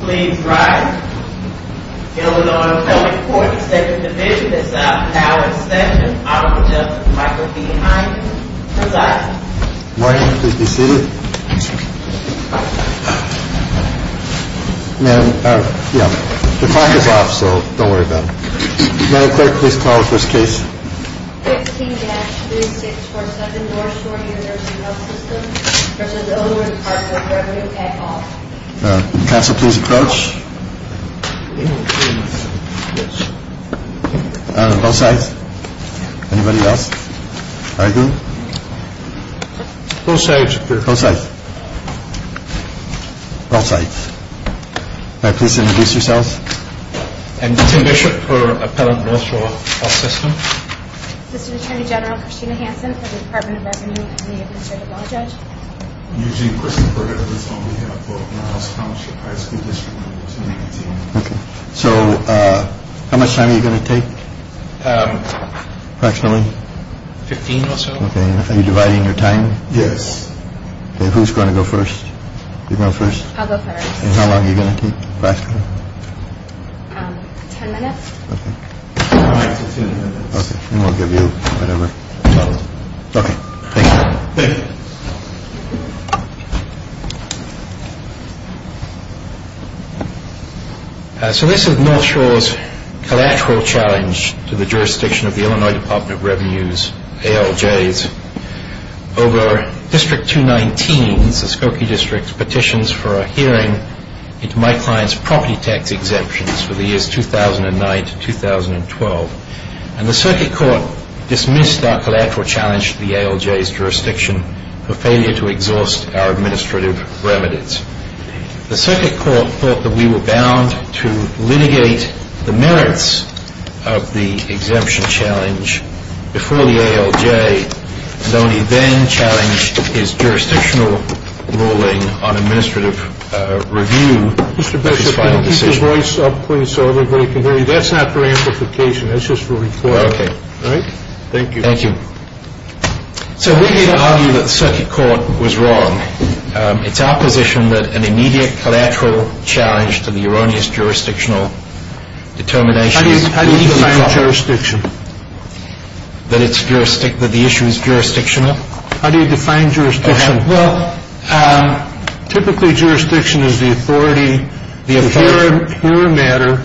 Please rise. Illinois Appellate Court, 2nd Division, South Tower Extension. Honorable Justice Michael P. Hines presiding. Good morning. Please be seated. Ma'am, the clock is off so don't worry about it. Madam Clerk, please call the first case. 16-3647 Northshore University Healthsystem v. Illinois Department of Revenue at all. Counsel, please approach. Both sides. Anybody else arguing? Both sides. Both sides. Both sides. Please introduce yourselves. I'm Tim Bishop for Appellate Northshore Healthsystem. Assistant Attorney General Christina Hansen for the Department of Revenue and the Administrative Law Judge. I'm Eugene Christopher. I represent the House Appellate High School District. How much time are you going to take? Approximately? 15 or so. Are you dividing your time? Yes. Who's going to go first? I'll go first. How long are you going to take? Question? Ten minutes. Okay. Okay. Then we'll give you whatever time. Okay. Thank you. Thank you. So this is Northshore's collateral challenge to the jurisdiction of the Illinois Department of Revenue's ALJs. Over District 219, the Skokie District, petitions for a hearing into my client's property tax exemptions for the years 2009 to 2012. And the circuit court dismissed our collateral challenge to the ALJ's jurisdiction for failure to exhaust our administrative remedies. The circuit court thought that we were bound to litigate the merits of the exemption challenge before the ALJ and only then challenged his jurisdictional ruling on administrative review of his final decision. Mr. Bishop, can you keep your voice up, please, so everybody can hear you? That's not for amplification. That's just for reporting. Okay. All right? Thank you. Thank you. So we needn't argue that the circuit court was wrong. It's our position that an immediate collateral challenge to the erroneous jurisdictional determination... How do you define jurisdiction? That the issue is jurisdictional? How do you define jurisdiction? Well, typically, jurisdiction is the authority, the apparent matter,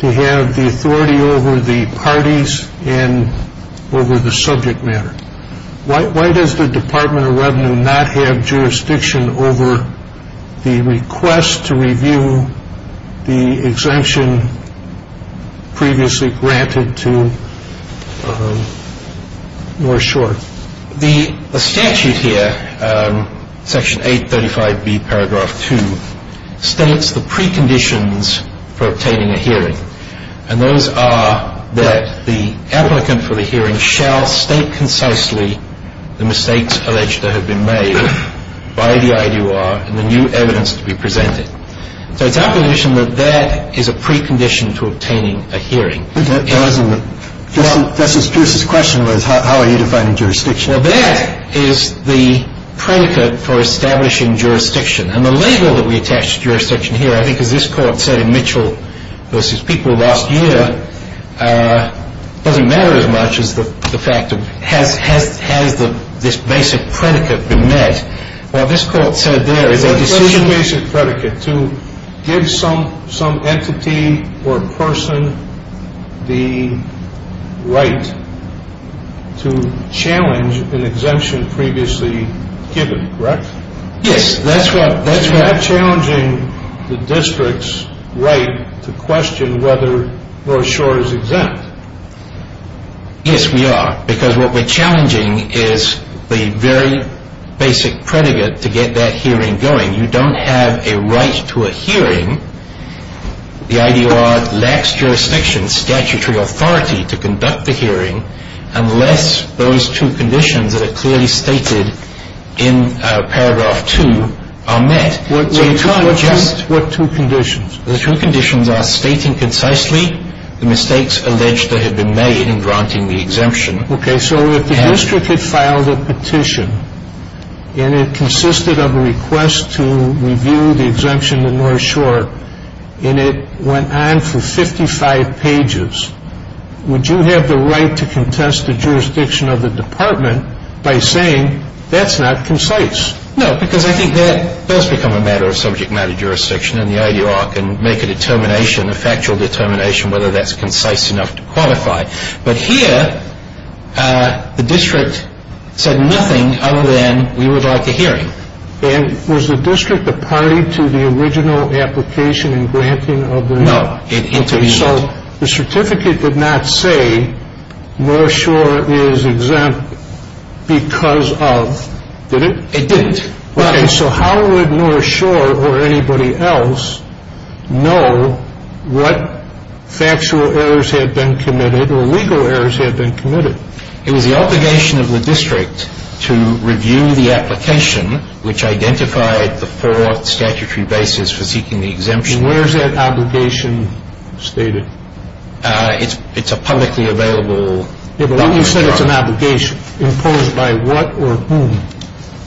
to have the authority over the parties and over the subject matter. Why does the Department of Revenue not have jurisdiction over the request to review the exemption previously granted to North Shore? The statute here, Section 835B, Paragraph 2, states the preconditions for obtaining a hearing. And those are that the applicant for the hearing shall state concisely the mistakes alleged to have been made by the I.D.U.R. and the new evidence to be presented. So it's our position that that is a precondition to obtaining a hearing. That's what Pierce's question was. How are you defining jurisdiction? Well, that is the predicate for establishing jurisdiction. And the label that we attach to jurisdiction here, I think as this court said in Mitchell v. People last year, doesn't matter as much as the fact of has this basic predicate been met. What this court said there is a decision... It's a basic predicate to give some entity or person the right to challenge an exemption previously given, correct? Yes, that's right. You're not challenging the district's right to question whether North Shore is exempt. Yes, we are. Because what we're challenging is the very basic predicate to get that hearing going. You don't have a right to a hearing. The I.D.U.R. lacks jurisdiction, statutory authority, to conduct the hearing unless those two conditions that are clearly stated in Paragraph 2 are met. What two conditions? The two conditions are stating concisely the mistakes alleged that have been made in granting the exemption. Okay, so if the district had filed a petition and it consisted of a request to review the exemption to North Shore and it went on for 55 pages, would you have the right to contest the jurisdiction of the department by saying that's not concise? No, because I think that does become a matter of subject matter jurisdiction and the I.D.U.R. can make a determination, a factual determination, whether that's concise enough to qualify. But here, the district said nothing other than we would like a hearing. And was the district a party to the original application and granting of the exemption? No, it intervened. So the certificate did not say North Shore is exempt because of, did it? It didn't. Okay, so how would North Shore or anybody else know what factual errors had been committed or legal errors had been committed? It was the obligation of the district to review the application which identified the four statutory bases for seeking the exemption. And where is that obligation stated? It's a publicly available document. Yeah, but you said it's an obligation imposed by what or whom?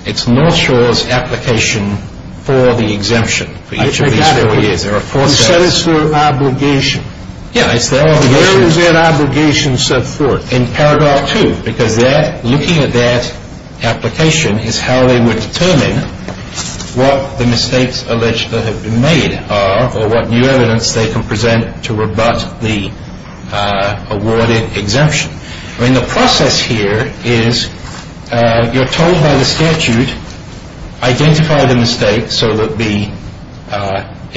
It's North Shore's application for the exemption for each of these four years. You said it's their obligation. Yeah, it's their obligation. Where is that obligation set forth? In Paragraph 2, because looking at that application is how they would determine what the mistakes alleged that have been made are or what new evidence they can present to rebut the awarded exemption. I mean, the process here is you're told by the statute, identify the mistake so that the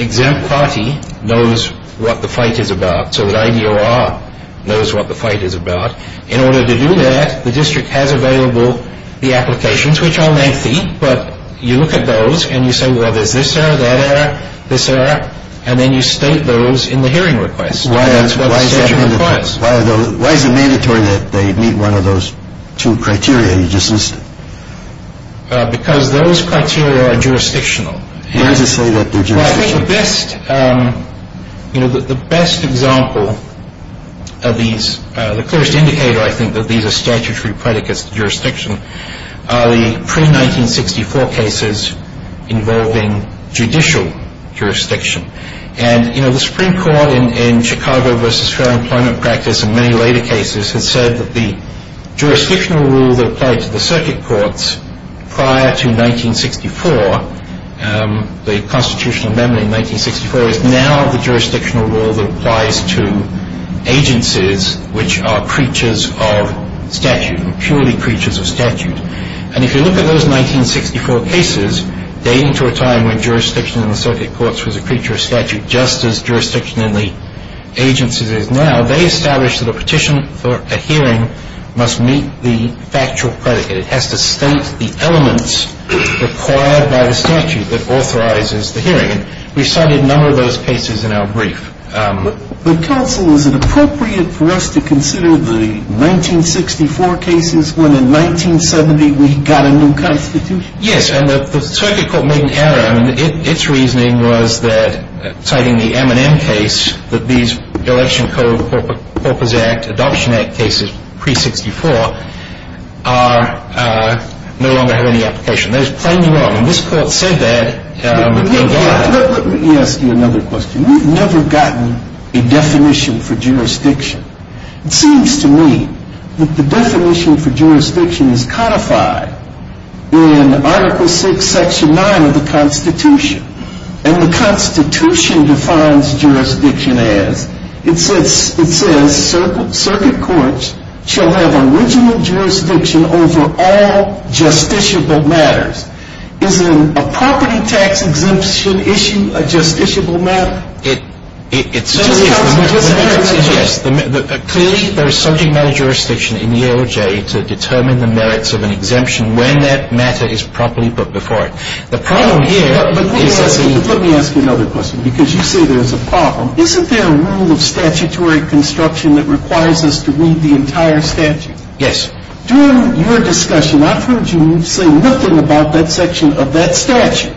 exempt party knows what the fight is about, so that IDOR knows what the fight is about. In order to do that, the district has available the applications, which are lengthy, but you look at those and you say, well, there's this error, that error, this error, and then you state those in the hearing request. Why is it mandatory that they meet one of those two criteria you just listed? Because those criteria are jurisdictional. Why does it say that they're jurisdictional? Well, I think the best example of these, the clearest indicator I think that these are statutory predicates to jurisdiction, are the pre-1964 cases involving judicial jurisdiction. The Supreme Court in Chicago v. Fair Employment Practice and many later cases has said that the jurisdictional rule that applied to the circuit courts prior to 1964, the constitutional amendment in 1964, is now the jurisdictional rule that applies to agencies which are creatures of statute, purely creatures of statute. And if you look at those 1964 cases, dating to a time when jurisdiction in the circuit courts was a creature of statute, just as jurisdiction in the agencies is now, they established that a petition for a hearing must meet the factual predicate. It has to state the elements required by the statute that authorizes the hearing. And we cited a number of those cases in our brief. But, Counsel, is it appropriate for us to consider the 1964 cases when in 1970 we got a new Constitution? Yes. And the circuit court made an error. I mean, its reasoning was that, citing the M&M case, that these Election Code Corpus Act, Adoption Act cases pre-'64, no longer have any application. Those claims were wrong. And this Court said that. Let me ask you another question. We've never gotten a definition for jurisdiction. It seems to me that the definition for jurisdiction is codified in Article VI, Section 9 of the Constitution. And the Constitution defines jurisdiction as, it says, circuit courts shall have original jurisdiction over all justiciable matters. Isn't a property tax exemption issue a justiciable matter? It certainly is. Clearly, there is subject matter jurisdiction in the AOJ to determine the merits of an exemption when that matter is properly put before it. Let me ask you another question, because you say there's a problem. Isn't there a rule of statutory construction that requires us to read the entire statute? Yes. During your discussion, I've heard you say nothing about that section of that statute,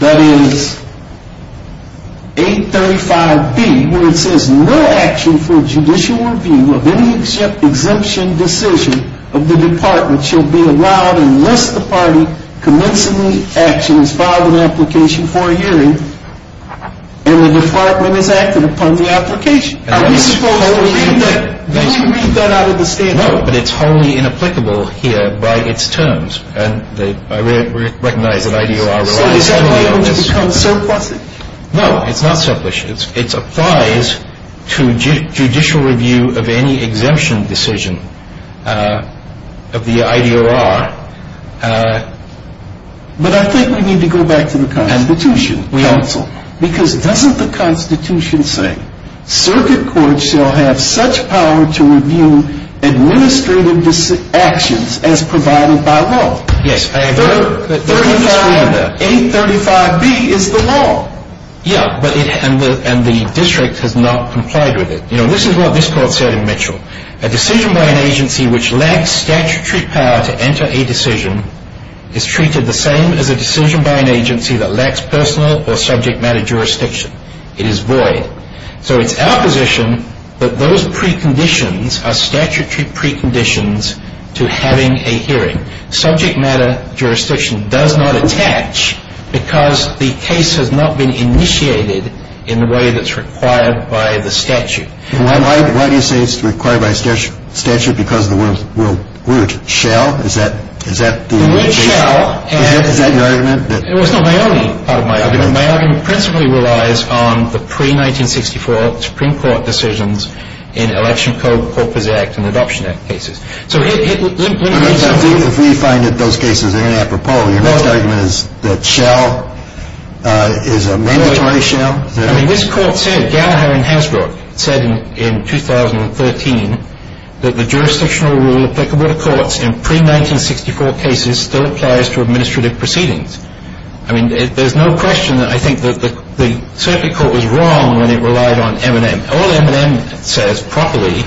that is, 835B, where it says, no action for judicial review of any exemption decision of the Department shall be allowed unless the party commencing the action has filed an application for a hearing and the Department has acted upon the application. Are we supposed to read that? Do we read that out of the statute? No, but it's wholly inapplicable here by its terms. And I recognize that IDOR relies heavily on this. So is that able to become surplusage? No, it's not surplusage. It applies to judicial review of any exemption decision of the IDOR. But I think we need to go back to the Constitution. Counsel. Because doesn't the Constitution say, circuit court shall have such power to review administrative actions as provided by law? Yes, I agree. 835B is the law. Yes, and the district has not complied with it. You know, this is what this court said in Mitchell. A decision by an agency which lacks statutory power to enter a decision is treated the same as a decision by an agency that lacks personal or subject matter jurisdiction. It is void. So it's our position that those preconditions are statutory preconditions to having a hearing. Subject matter jurisdiction does not attach because the case has not been initiated in the way that's required by the statute. Why do you say it's required by statute? Because the word shall? The word shall. Is that your argument? It was not my only part of my argument. My argument principally relies on the pre-1964 Supreme Court decisions in Election Corpus Act and Adoption Act cases. If we find that those cases are inappropriate, your next argument is that shall is a mandatory shall? I mean, this court said, Gallagher and Hasbro said in 2013, that the jurisdictional rule applicable to courts in pre-1964 cases still applies to administrative proceedings. I mean, there's no question that I think the circuit court was wrong when it relied on M&M. All M&M says properly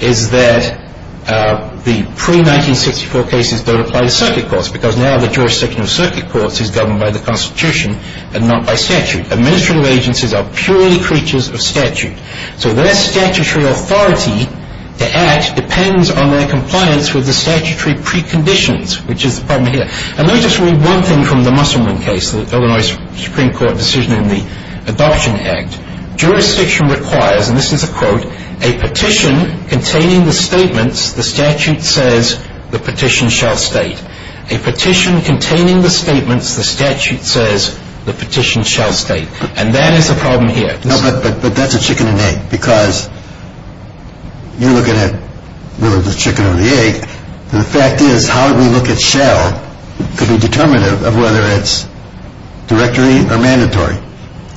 is that the pre-1964 cases don't apply to circuit courts because now the jurisdiction of circuit courts is governed by the Constitution and not by statute. Administrative agencies are purely creatures of statute. So their statutory authority to act depends on their compliance with the statutory preconditions, which is the problem here. And let me just read one thing from the Musselman case, the Illinois Supreme Court decision in the Adoption Act. Jurisdiction requires, and this is a quote, a petition containing the statements the statute says the petition shall state. A petition containing the statements the statute says the petition shall state. And that is the problem here. No, but that's a chicken and egg because you're looking at whether it's a chicken or the egg. The fact is, how we look at shall could be determinative of whether it's directory or mandatory.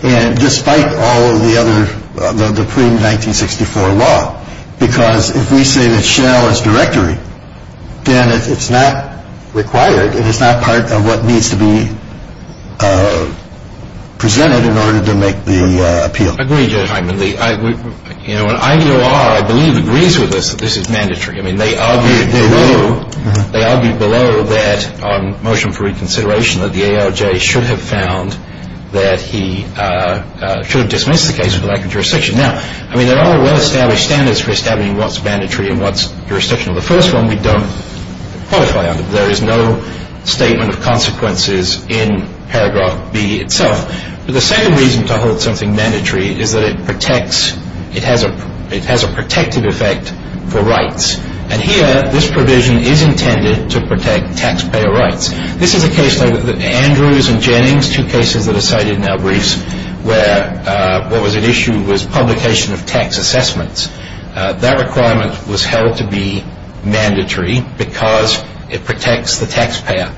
And despite all of the other, the pre-1964 law, because if we say that shall is directory, then it's not required and it's not part of what needs to be presented in order to make the appeal. I agree, Judge Hyman. You know, an IDOR, I believe, agrees with us that this is mandatory. I mean, they argue below that on motion for reconsideration that the ALJ should have found that he should have dismissed the case for lack of jurisdiction. Now, I mean, there are well-established standards for establishing what's mandatory and what's jurisdictional. The first one we don't qualify under. There is no statement of consequences in paragraph B itself. But the second reason to hold something mandatory is that it protects, it has a protective effect for rights. And here, this provision is intended to protect taxpayer rights. This is a case like Andrews and Jennings, two cases that are cited in our briefs, where what was at issue was publication of tax assessments. That requirement was held to be mandatory because it protects the taxpayer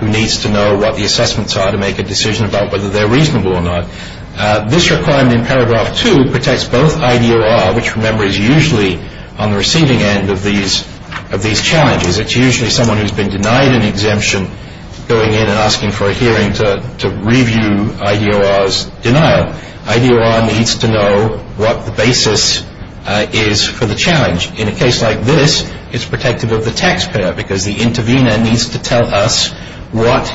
who needs to know what the assessments are to make a decision about whether they're reasonable or not. This requirement in paragraph 2 protects both IDOR, which, remember, is usually on the receiving end of these challenges. It's usually someone who's been denied an exemption going in and asking for a hearing to review IDOR's denial. IDOR needs to know what the basis is for the challenge. In a case like this, it's protective of the taxpayer because the intervener needs to tell us what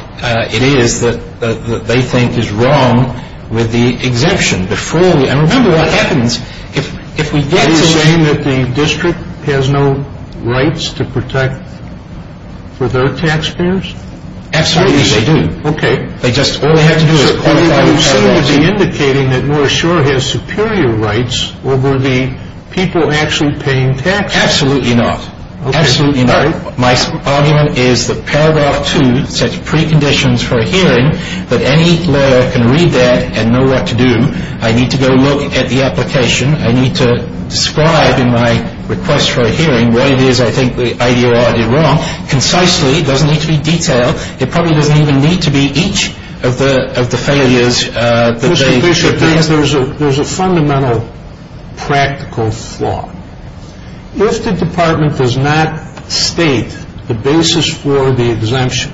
it is that they think is wrong with the exemption. And remember what happens if we get to the- So IDOR has no rights to protect for their taxpayers? Absolutely, they do. Okay. They just- All they have to do is qualify- So are you indicating that North Shore has superior rights or were the people actually paying taxes? Absolutely not. Okay. Absolutely not. My argument is that paragraph 2 sets preconditions for a hearing that any lawyer can read that and know what to do. I need to go look at the application. I need to describe in my request for a hearing what it is I think IDOR did wrong. Concisely, it doesn't need to be detailed. It probably doesn't even need to be each of the failures that they- Mr. Bishop, there's a fundamental practical flaw. If the department does not state the basis for the exemption,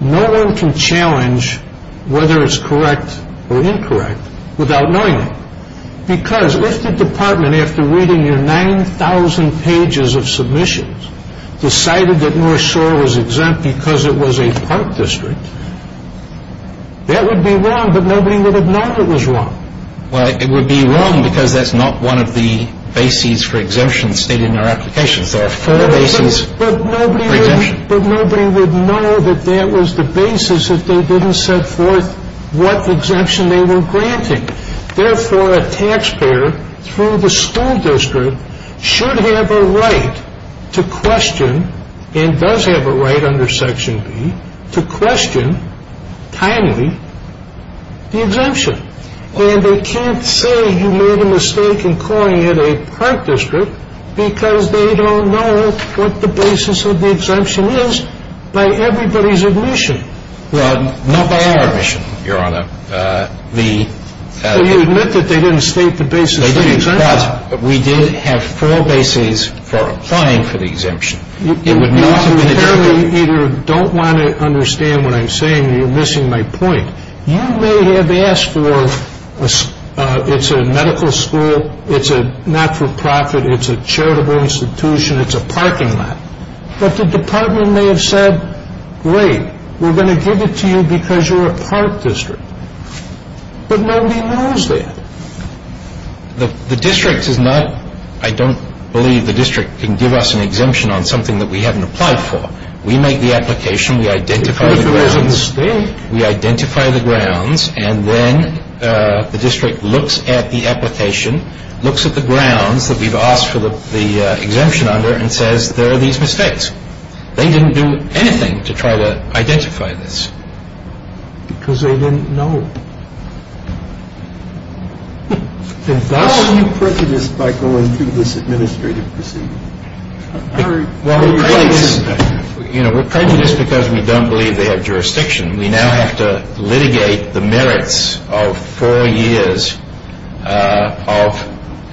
no one can challenge whether it's correct or incorrect without knowing it because if the department, after reading your 9,000 pages of submissions, decided that North Shore was exempt because it was a park district, that would be wrong, but nobody would have known it was wrong. Well, it would be wrong because that's not one of the bases for exemption stated in our application. But nobody would know that that was the basis if they didn't set forth what exemption they were granting. Therefore, a taxpayer through the school district should have a right to question and does have a right under Section B to question timely the exemption. And they can't say you made a mistake in calling it a park district because they don't know what the basis of the exemption is by everybody's admission. Not by our admission, Your Honor. Well, you admit that they didn't state the basis of the exemption. They didn't, but we did have four bases for applying for the exemption. You clearly either don't want to understand what I'm saying or you're missing my point. You may have asked for it's a medical school, it's a not-for-profit, it's a charitable institution, it's a parking lot, but the department may have said, great, we're going to give it to you because you're a park district. But nobody knows that. The district is not – I don't believe the district can give us an exemption on something that we haven't applied for. We make the application, we identify the grounds. Because there is a mistake. We identify the grounds, and then the district looks at the application, looks at the grounds that we've asked for the exemption under, and says there are these mistakes. They didn't do anything to try to identify this. Because they didn't know. How are you prejudiced by going through this administrative procedure? Well, we're prejudiced because we don't believe they have jurisdiction. We now have to litigate the merits of four years of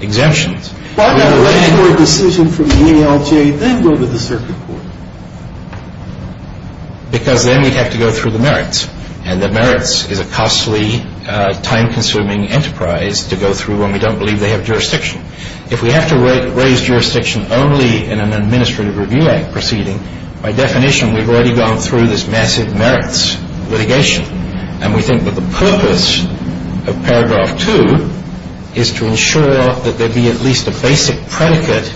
exemptions. Why not wait for a decision from the ALJ, then go to the circuit court? Because then we'd have to go through the merits. And the merits is a costly, time-consuming enterprise to go through when we don't believe they have jurisdiction. If we have to raise jurisdiction only in an administrative review proceeding, by definition we've already gone through this massive merits litigation. And we think that the purpose of paragraph 2 is to ensure that there be at least a basic predicate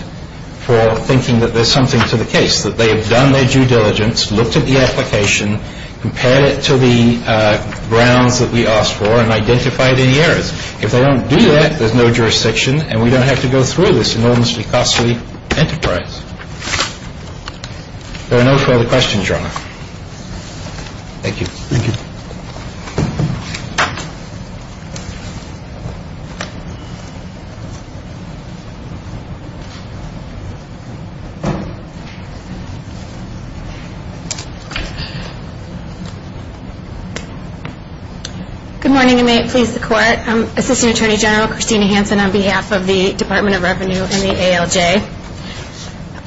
for thinking that there's something to the case, that they have done their due diligence, looked at the application, compared it to the grounds that we asked for, and identified any errors. If they don't do that, there's no jurisdiction, and we don't have to go through this enormously costly enterprise. There are no further questions, Your Honor. Thank you. Thank you. Assistant Attorney General Christina Hanson on behalf of the Department of Revenue and the ALJ.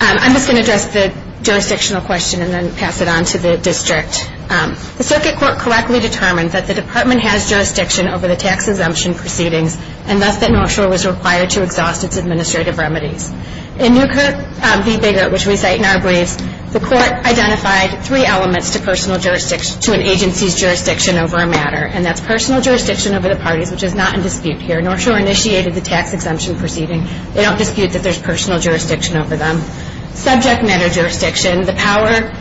I'm just going to address the jurisdictional question and then pass it on to the district. The circuit court correctly determined that the department has jurisdiction over the tax exemption proceedings, and thus that North Shore was required to exhaust its administrative remedies. In Newkirk v. Biggert, which we cite in our briefs, the court identified three elements to an agency's jurisdiction over a matter, and that's personal jurisdiction over the parties, which is not in dispute here. North Shore initiated the tax exemption proceeding. They don't dispute that there's personal jurisdiction over them. Subject matter jurisdiction, the power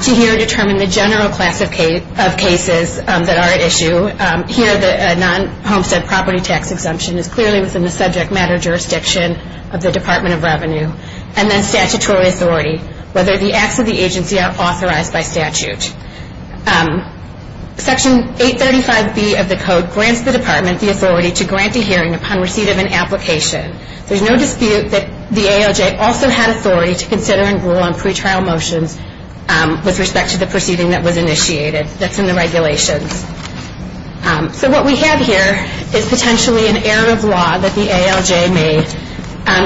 to here determine the general class of cases that are at issue. Here, the non-Homestead property tax exemption is clearly within the subject matter jurisdiction of the Department of Revenue. And then statutory authority, whether the acts of the agency are authorized by statute. Section 835B of the code grants the department the authority to grant a hearing upon receipt of an application. There's no dispute that the ALJ also had authority to consider and rule on pretrial motions with respect to the proceeding that was initiated, that's in the regulations. So what we have here is potentially an error of law that the ALJ made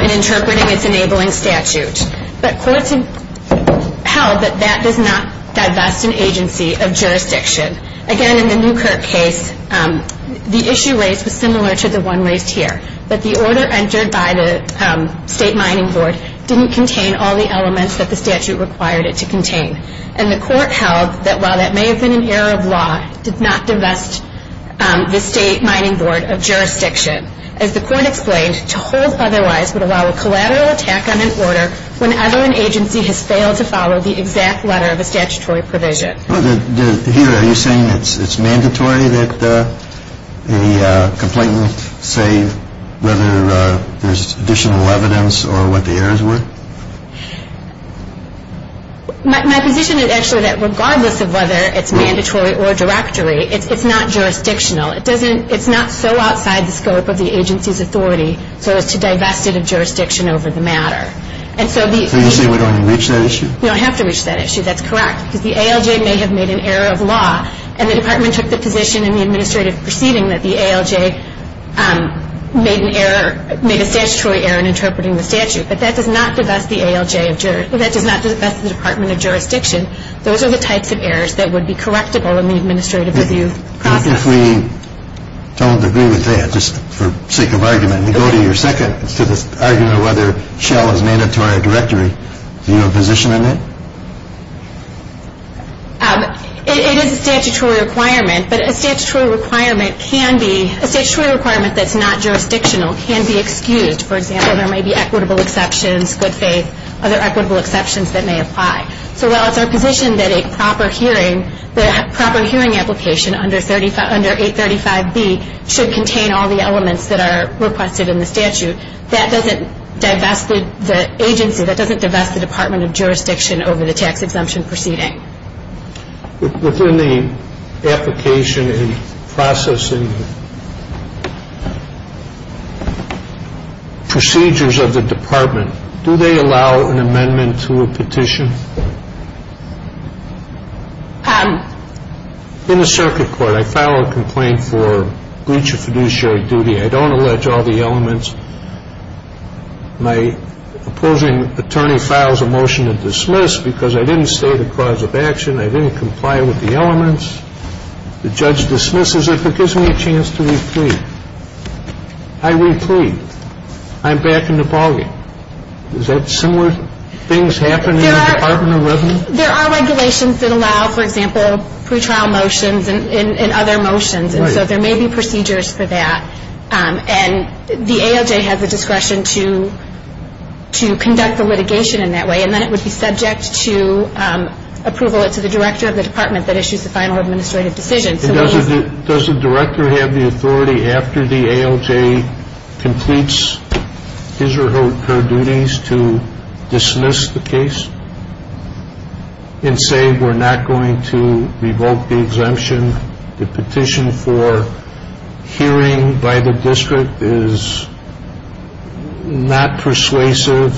in interpreting its enabling statute. But courts have held that that does not divest an agency of jurisdiction. Again, in the Newkirk case, the issue raised was similar to the one raised here, that the order entered by the state mining board didn't contain all the elements that the statute required it to contain. And the court held that while that may have been an error of law, did not divest the state mining board of jurisdiction. As the court explained, to hold otherwise would allow a collateral attack on an order whenever an agency has failed to follow the exact letter of a statutory provision. Here, are you saying it's mandatory that a complainant say whether there's additional evidence or what the errors were? My position is actually that regardless of whether it's mandatory or directory, it's not jurisdictional. It's not so outside the scope of the agency's authority so as to divest it of jurisdiction over the matter. So you're saying we don't have to reach that issue? We don't have to reach that issue, that's correct. Because the ALJ may have made an error of law, and the department took the position in the administrative proceeding that the ALJ made an error, made a statutory error in interpreting the statute. But that does not divest the ALJ, that does not divest the department of jurisdiction. Those are the types of errors that would be correctable in the administrative review process. And if we don't agree with that, just for sake of argument, we go to your second argument of whether shell is mandatory or directory. Do you have a position on that? It is a statutory requirement, but a statutory requirement can be, a statutory requirement that's not jurisdictional can be excused. For example, there may be equitable exceptions, good faith, other equitable exceptions that may apply. So while it's our position that a proper hearing, the proper hearing application under 835B should contain all the elements that are requested in the statute, that doesn't divest the agency, that doesn't divest the department of jurisdiction over the tax exemption proceeding. Within the application and processing procedures of the department, do they allow an amendment to a petition? In the circuit court, I file a complaint for breach of fiduciary duty. I don't allege all the elements. My opposing attorney files a motion to dismiss because I didn't state a cause of action. I didn't comply with the elements. The judge dismisses it, but gives me a chance to replead. I replead. I'm back in the bargain. Is that similar things happen in the Department of Revenue? There are regulations that allow, for example, pretrial motions and other motions. And so there may be procedures for that. And the ALJ has the discretion to conduct the litigation in that way, and then it would be subject to approval. It's the director of the department that issues the final administrative decision. Does the director have the authority after the ALJ completes his or her duties to dismiss the case and say we're not going to revoke the exemption? The petition for hearing by the district is not persuasive.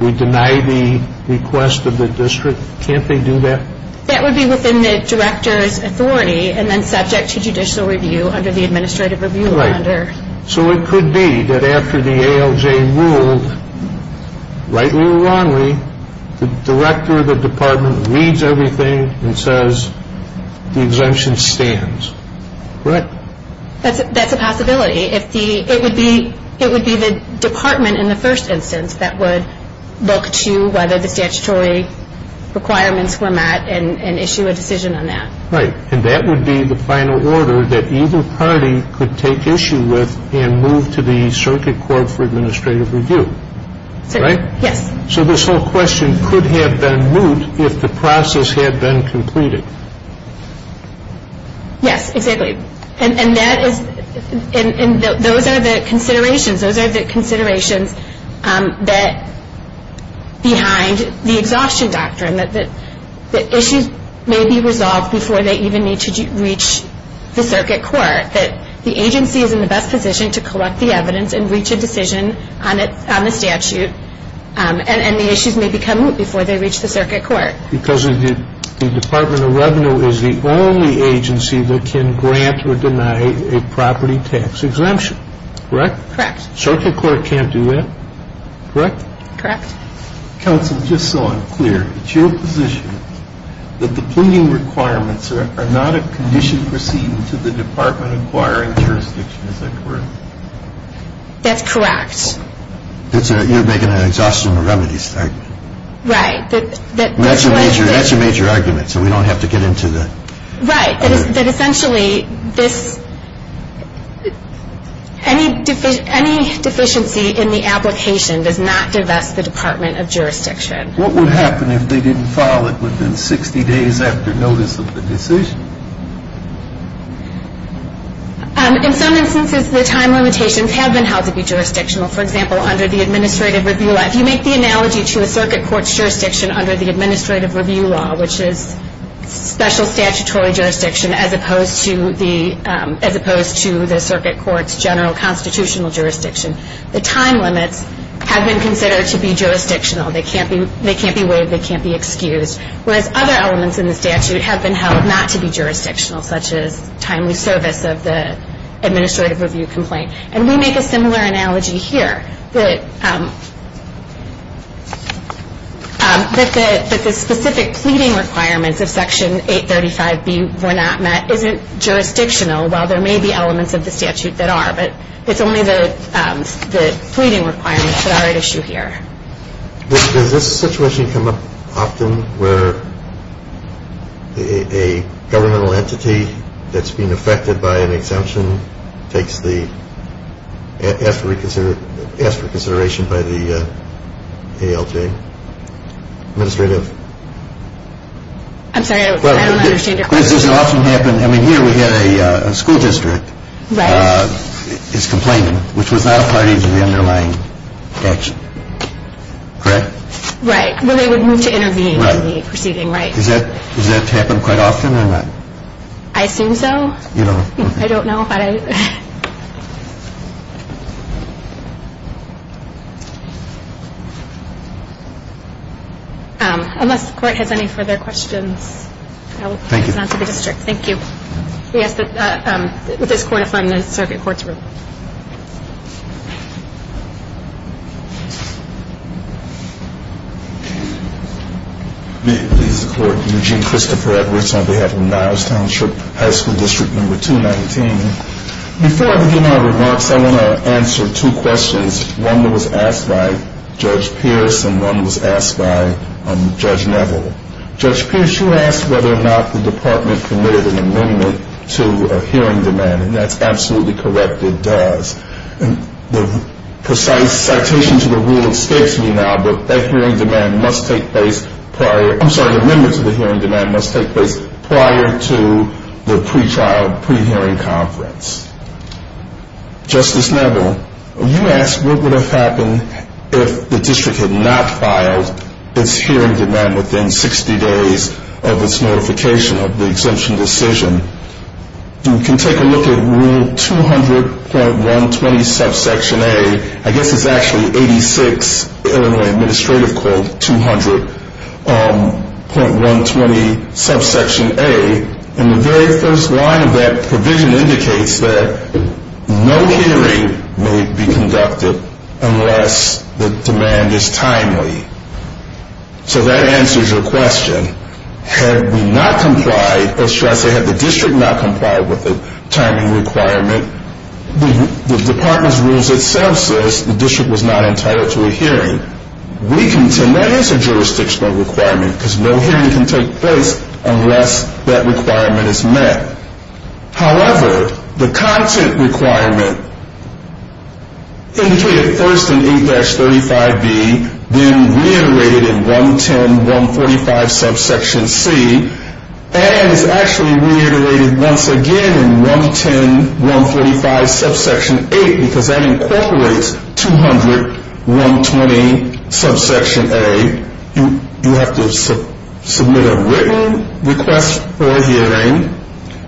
We deny the request of the district. Can't they do that? That would be within the director's authority and then subject to judicial review under the administrative review order. Right. So it could be that after the ALJ ruled rightly or wrongly, the director of the department reads everything and says the exemption stands, right? That's a possibility. It would be the department in the first instance that would look to whether the statutory requirements were met and issue a decision on that. Right. And that would be the final order that either party could take issue with and move to the circuit court for administrative review, right? Yes. So this whole question could have been moot if the process had been completed. Yes, exactly. And those are the considerations behind the exhaustion doctrine, that issues may be resolved before they even need to reach the circuit court, that the agency is in the best position to collect the evidence and reach a decision on the statute, and the issues may become moot before they reach the circuit court. Because the Department of Revenue is the only agency that can grant or deny a property tax exemption, correct? Correct. Circuit court can't do that, correct? Correct. Counsel, just so I'm clear, it's your position that the pleading requirements are not a condition proceeding to the department acquiring jurisdiction, is that correct? That's correct. You're making an exhaustion remedies statement. Right. That's a major argument, so we don't have to get into that. Right. That essentially this, any deficiency in the application does not divest the Department of Jurisdiction. What would happen if they didn't file it within 60 days after notice of the decision? In some instances, the time limitations have been held to be jurisdictional. For example, under the Administrative Review Act, you make the analogy to a circuit court's jurisdiction under the Administrative Review Law, which is special statutory jurisdiction as opposed to the circuit court's general constitutional jurisdiction. The time limits have been considered to be jurisdictional. They can't be waived. They can't be excused. Whereas other elements in the statute have been held not to be jurisdictional, such as timely service of the Administrative Review complaint. And we make a similar analogy here, that the specific pleading requirements of Section 835B were not met isn't jurisdictional, while there may be elements of the statute that are. But it's only the pleading requirements that are at issue here. Does this situation come up often where a governmental entity that's been affected by an exemption asks for consideration by the ALJ? Administrative? I'm sorry, I don't understand your question. Does this often happen? I mean, here we had a school district is complaining, which was not a party to the underlying action. Correct? Right. Well, they would move to intervene in the proceeding, right. Does that happen quite often or not? I assume so. You don't? I don't know. Unless the Court has any further questions, I will pass it on to the district. Thank you. We ask that this Court affirm the Circuit Court's ruling. Please support Eugene Christopher Edwards on behalf of Niles Township, High School District Number 219. Before I begin my remarks, I want to answer two questions, one that was asked by Judge Pierce and one that was asked by Judge Neville. Judge Pierce, you asked whether or not the Department committed an amendment to a hearing demand, and that's absolutely correct, it does. The precise citation to the rule escapes me now, but that hearing demand must take place prior, I'm sorry, amendments to the hearing demand must take place prior to the pre-trial, pre-hearing conference. Justice Neville, you asked what would have happened if the district had not filed its hearing demand within 60 days of its notification of the exemption decision. You can take a look at Rule 200.120 Subsection A, I guess it's actually 86 Illinois Administrative Code 200.120 Subsection A, and the very first line of that provision indicates that no hearing may be conducted unless the demand is timely. So that answers your question. Had we not complied, or should I say had the district not complied with the timing requirement, the Department's rules itself says the district was not entitled to a hearing. We contend that is a jurisdictional requirement because no hearing can take place unless that requirement is met. However, the content requirement indicated first in 8-35B, then reiterated in 110.145 Subsection C, and is actually reiterated once again in 110.145 Subsection 8, because that incorporates 200.120 Subsection A. You have to submit a written request for a hearing.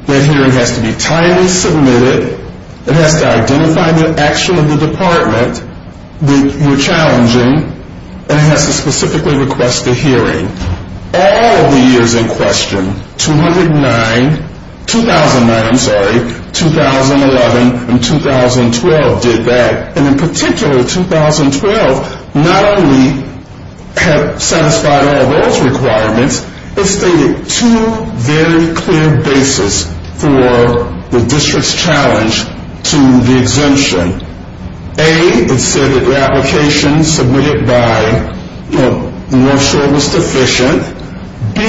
That hearing has to be timely submitted. It has to identify the action of the Department that you're challenging, and it has to specifically request a hearing. All of the years in question, 2009, 2011, and 2012 did that, and in particular 2012 not only have satisfied all those requirements, it stated two very clear bases for the district's challenge to the exemption. A, it said that the application submitted by North Shore was deficient. B,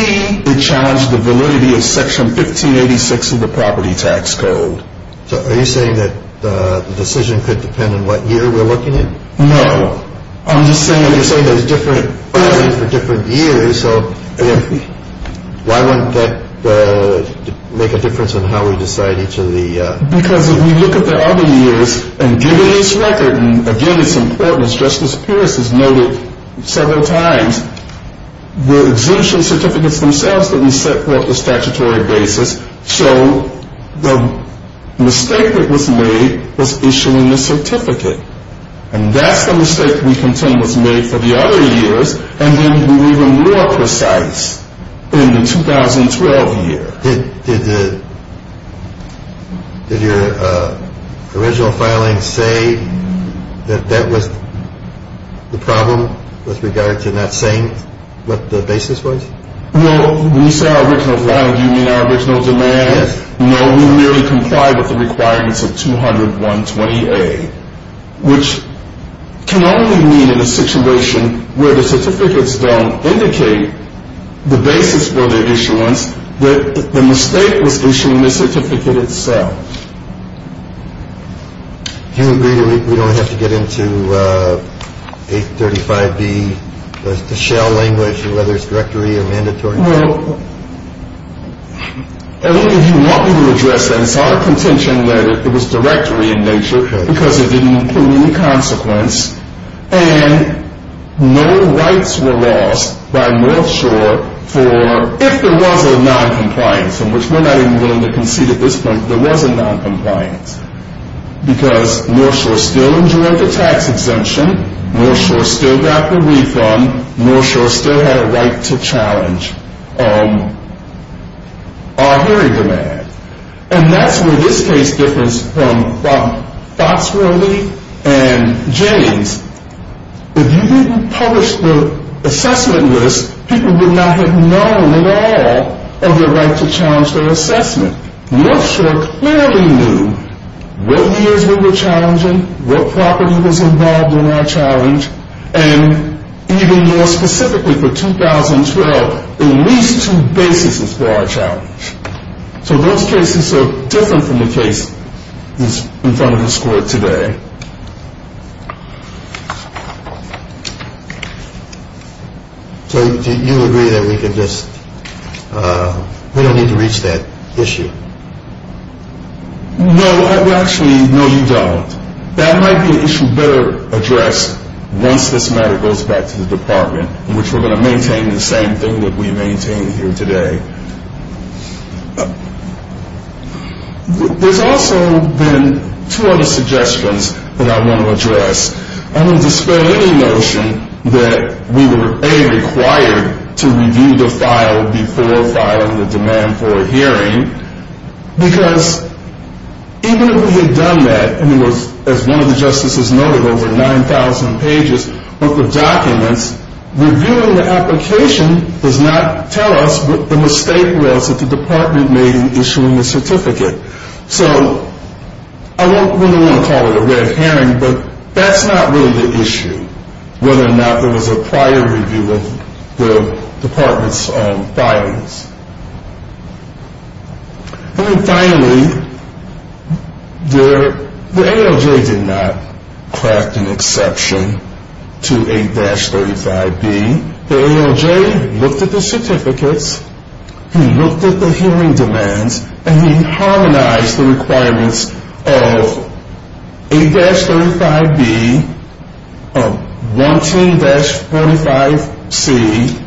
it challenged the validity of Section 1586 of the Property Tax Code. So are you saying that the decision could depend on what year we're looking at? No. I'm just saying there's different filing for different years, so why wouldn't that make a difference in how we decide each of the— Because if we look at the other years, and given this record, and again it's important as Justice Pierce has noted several times, the exemption certificates themselves didn't set forth the statutory basis, so the mistake that was made was issuing the certificate, and that's the mistake we contend was made for the other years, and then we were even more precise in the 2012 year. Did your original filing say that that was the problem with regard to not saying what the basis was? Well, when you say our original filing, do you mean our original demand? Yes. No, we merely complied with the requirements of 200.120A, which can only mean in a situation where the certificates don't indicate the basis for their issuance that the mistake was issuing the certificate itself. Do you agree that we don't have to get into 835B, the shell language, whether it's directory or mandatory? Well, if you want me to address that, it's not a contention that it was directory in nature because it didn't include any consequence, and no rights were lost by North Shore for, if there was a noncompliance, of which we're not even willing to concede at this point, there was a noncompliance, because North Shore still endured the tax exemption, North Shore still got the refund, North Shore still had a right to challenge our hearing demand, and that's where this case differs from Foxworthy and James. If you didn't publish the assessment list, people would not have known at all of their right to challenge their assessment. North Shore clearly knew what years we were challenging, what property was involved in our challenge, and even more specifically for 2012, at least two bases for our challenge. So those cases are different from the case in front of this court today. So do you agree that we don't need to reach that issue? No, actually, no, you don't. That might be an issue better addressed once this matter goes back to the department, in which we're going to maintain the same thing that we maintained here today. There's also been two other suggestions that I want to address. I want to dispel any notion that we were, A, required to review the file before filing the demand for a hearing, because even if we had done that, and it was, as one of the justices noted, over 9,000 pages, over documents, reviewing the application does not tell us what the mistake was that the department made in issuing the certificate. So I don't really want to call it a red herring, but that's not really the issue, whether or not there was a prior review of the department's filings. And then finally, the ALJ did not craft an exception to 8-35B. The ALJ looked at the certificates, he looked at the hearing demands, and he harmonized the requirements of 8-35B, 110-45C,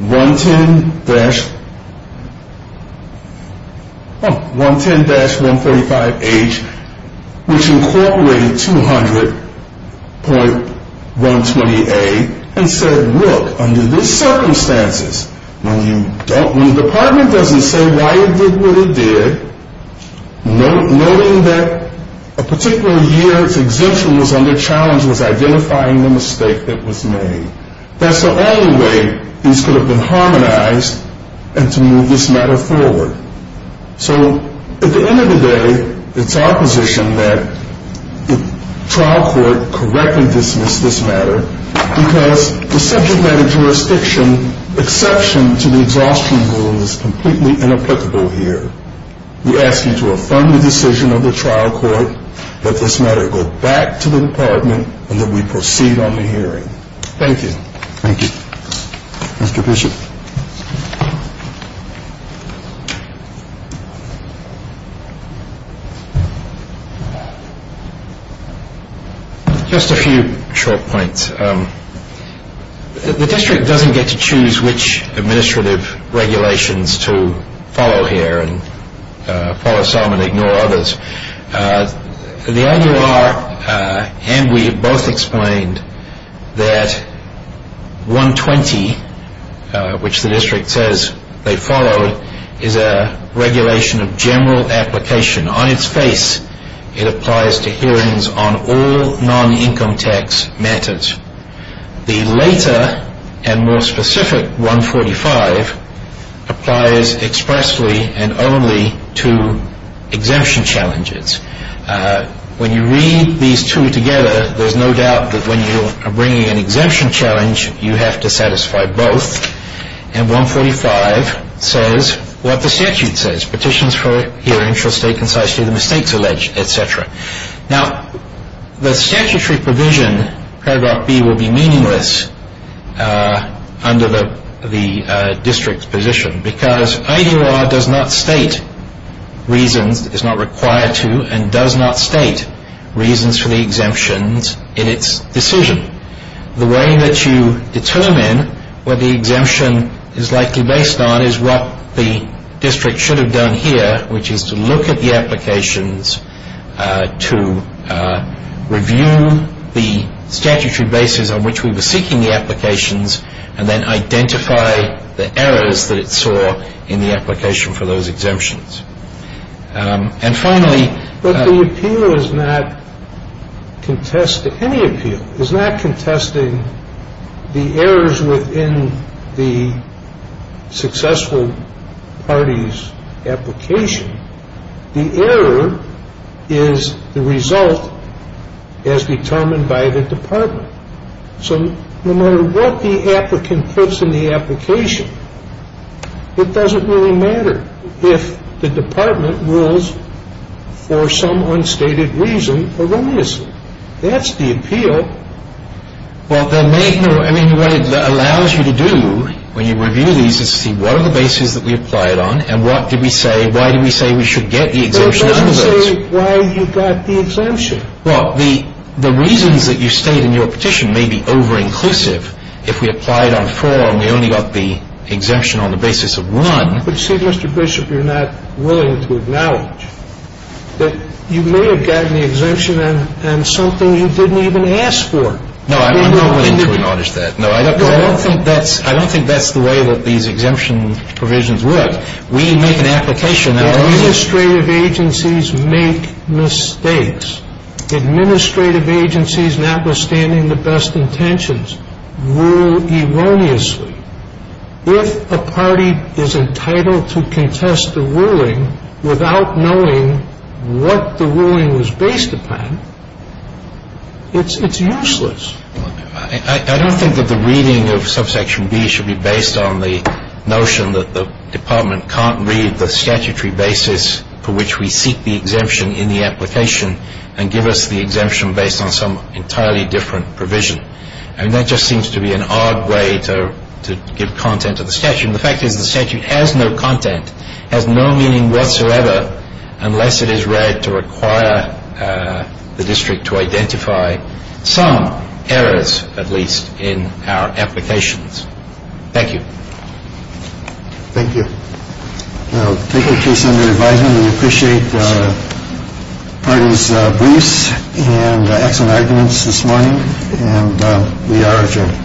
110-145H, which incorporated 200.120A, and said, look, under these circumstances, when the department doesn't say why it did what it did, noting that a particular year its exemption was under challenge was identifying the mistake that was made. That's the only way these could have been harmonized and to move this matter forward. So at the end of the day, it's our position that the trial court correctly dismissed this matter, because the subject matter jurisdiction exception to the exhaustion rule is completely inapplicable here. We ask you to affirm the decision of the trial court, let this matter go back to the department, and then we proceed on the hearing. Thank you. Thank you. Mr. Bishop. Thank you. Just a few short points. The district doesn't get to choose which administrative regulations to follow here and follow some and ignore others. The IUR and we have both explained that 120, which the district says they followed, is a regulation of general application. On its face, it applies to hearings on all non-income tax matters. The later and more specific 145 applies expressly and only to exemption challenges. When you read these two together, there's no doubt that when you are bringing an exemption challenge, you have to satisfy both, and 145 says what the statute says, petitions for hearings shall state concisely the mistakes alleged, et cetera. Now, the statutory provision paragraph B will be meaningless under the district's position because IUR does not state reasons, is not required to, and does not state reasons for the exemptions in its decision. The way that you determine what the exemption is likely based on is what the district should have done here, which is to look at the applications to review the statutory basis on which we were seeking the applications and then identify the errors that it saw in the application for those exemptions. And finally the appeal is not contested. Any appeal is not contesting the errors within the successful party's application. The error is the result as determined by the department. So no matter what the applicant puts in the application, it doesn't really matter if the department rules for some unstated reason erroneously. That's the appeal. Well, there may be, I mean, what it allows you to do when you review these is to see what are the bases that we applied on and what did we say, why did we say we should get the exemption under those? Well, don't say why you got the exemption. Well, the reasons that you state in your petition may be over-inclusive. If we applied on four and we only got the exemption on the basis of one. But see, Mr. Bishop, you're not willing to acknowledge that you may have gotten the exemption and something you didn't even ask for. No, I'm not willing to acknowledge that. No, I don't think that's the way that these exemption provisions work. We make an application. Administrative agencies make mistakes. Administrative agencies, notwithstanding the best intentions, rule erroneously. If a party is entitled to contest the ruling without knowing what the ruling was based upon, it's useless. I don't think that the reading of Subsection B should be based on the notion that the department can't read the statutory basis for which we seek the exemption in the application and give us the exemption based on some entirely different provision. I mean, that just seems to be an odd way to give content to the statute. And the fact is the statute has no content, has no meaning whatsoever, unless it is read to require the district to identify some errors, at least, in our applications. Thank you. Thank you. We'll take our case under advisement. We appreciate the party's briefs and excellent arguments this morning. And we are adjourned.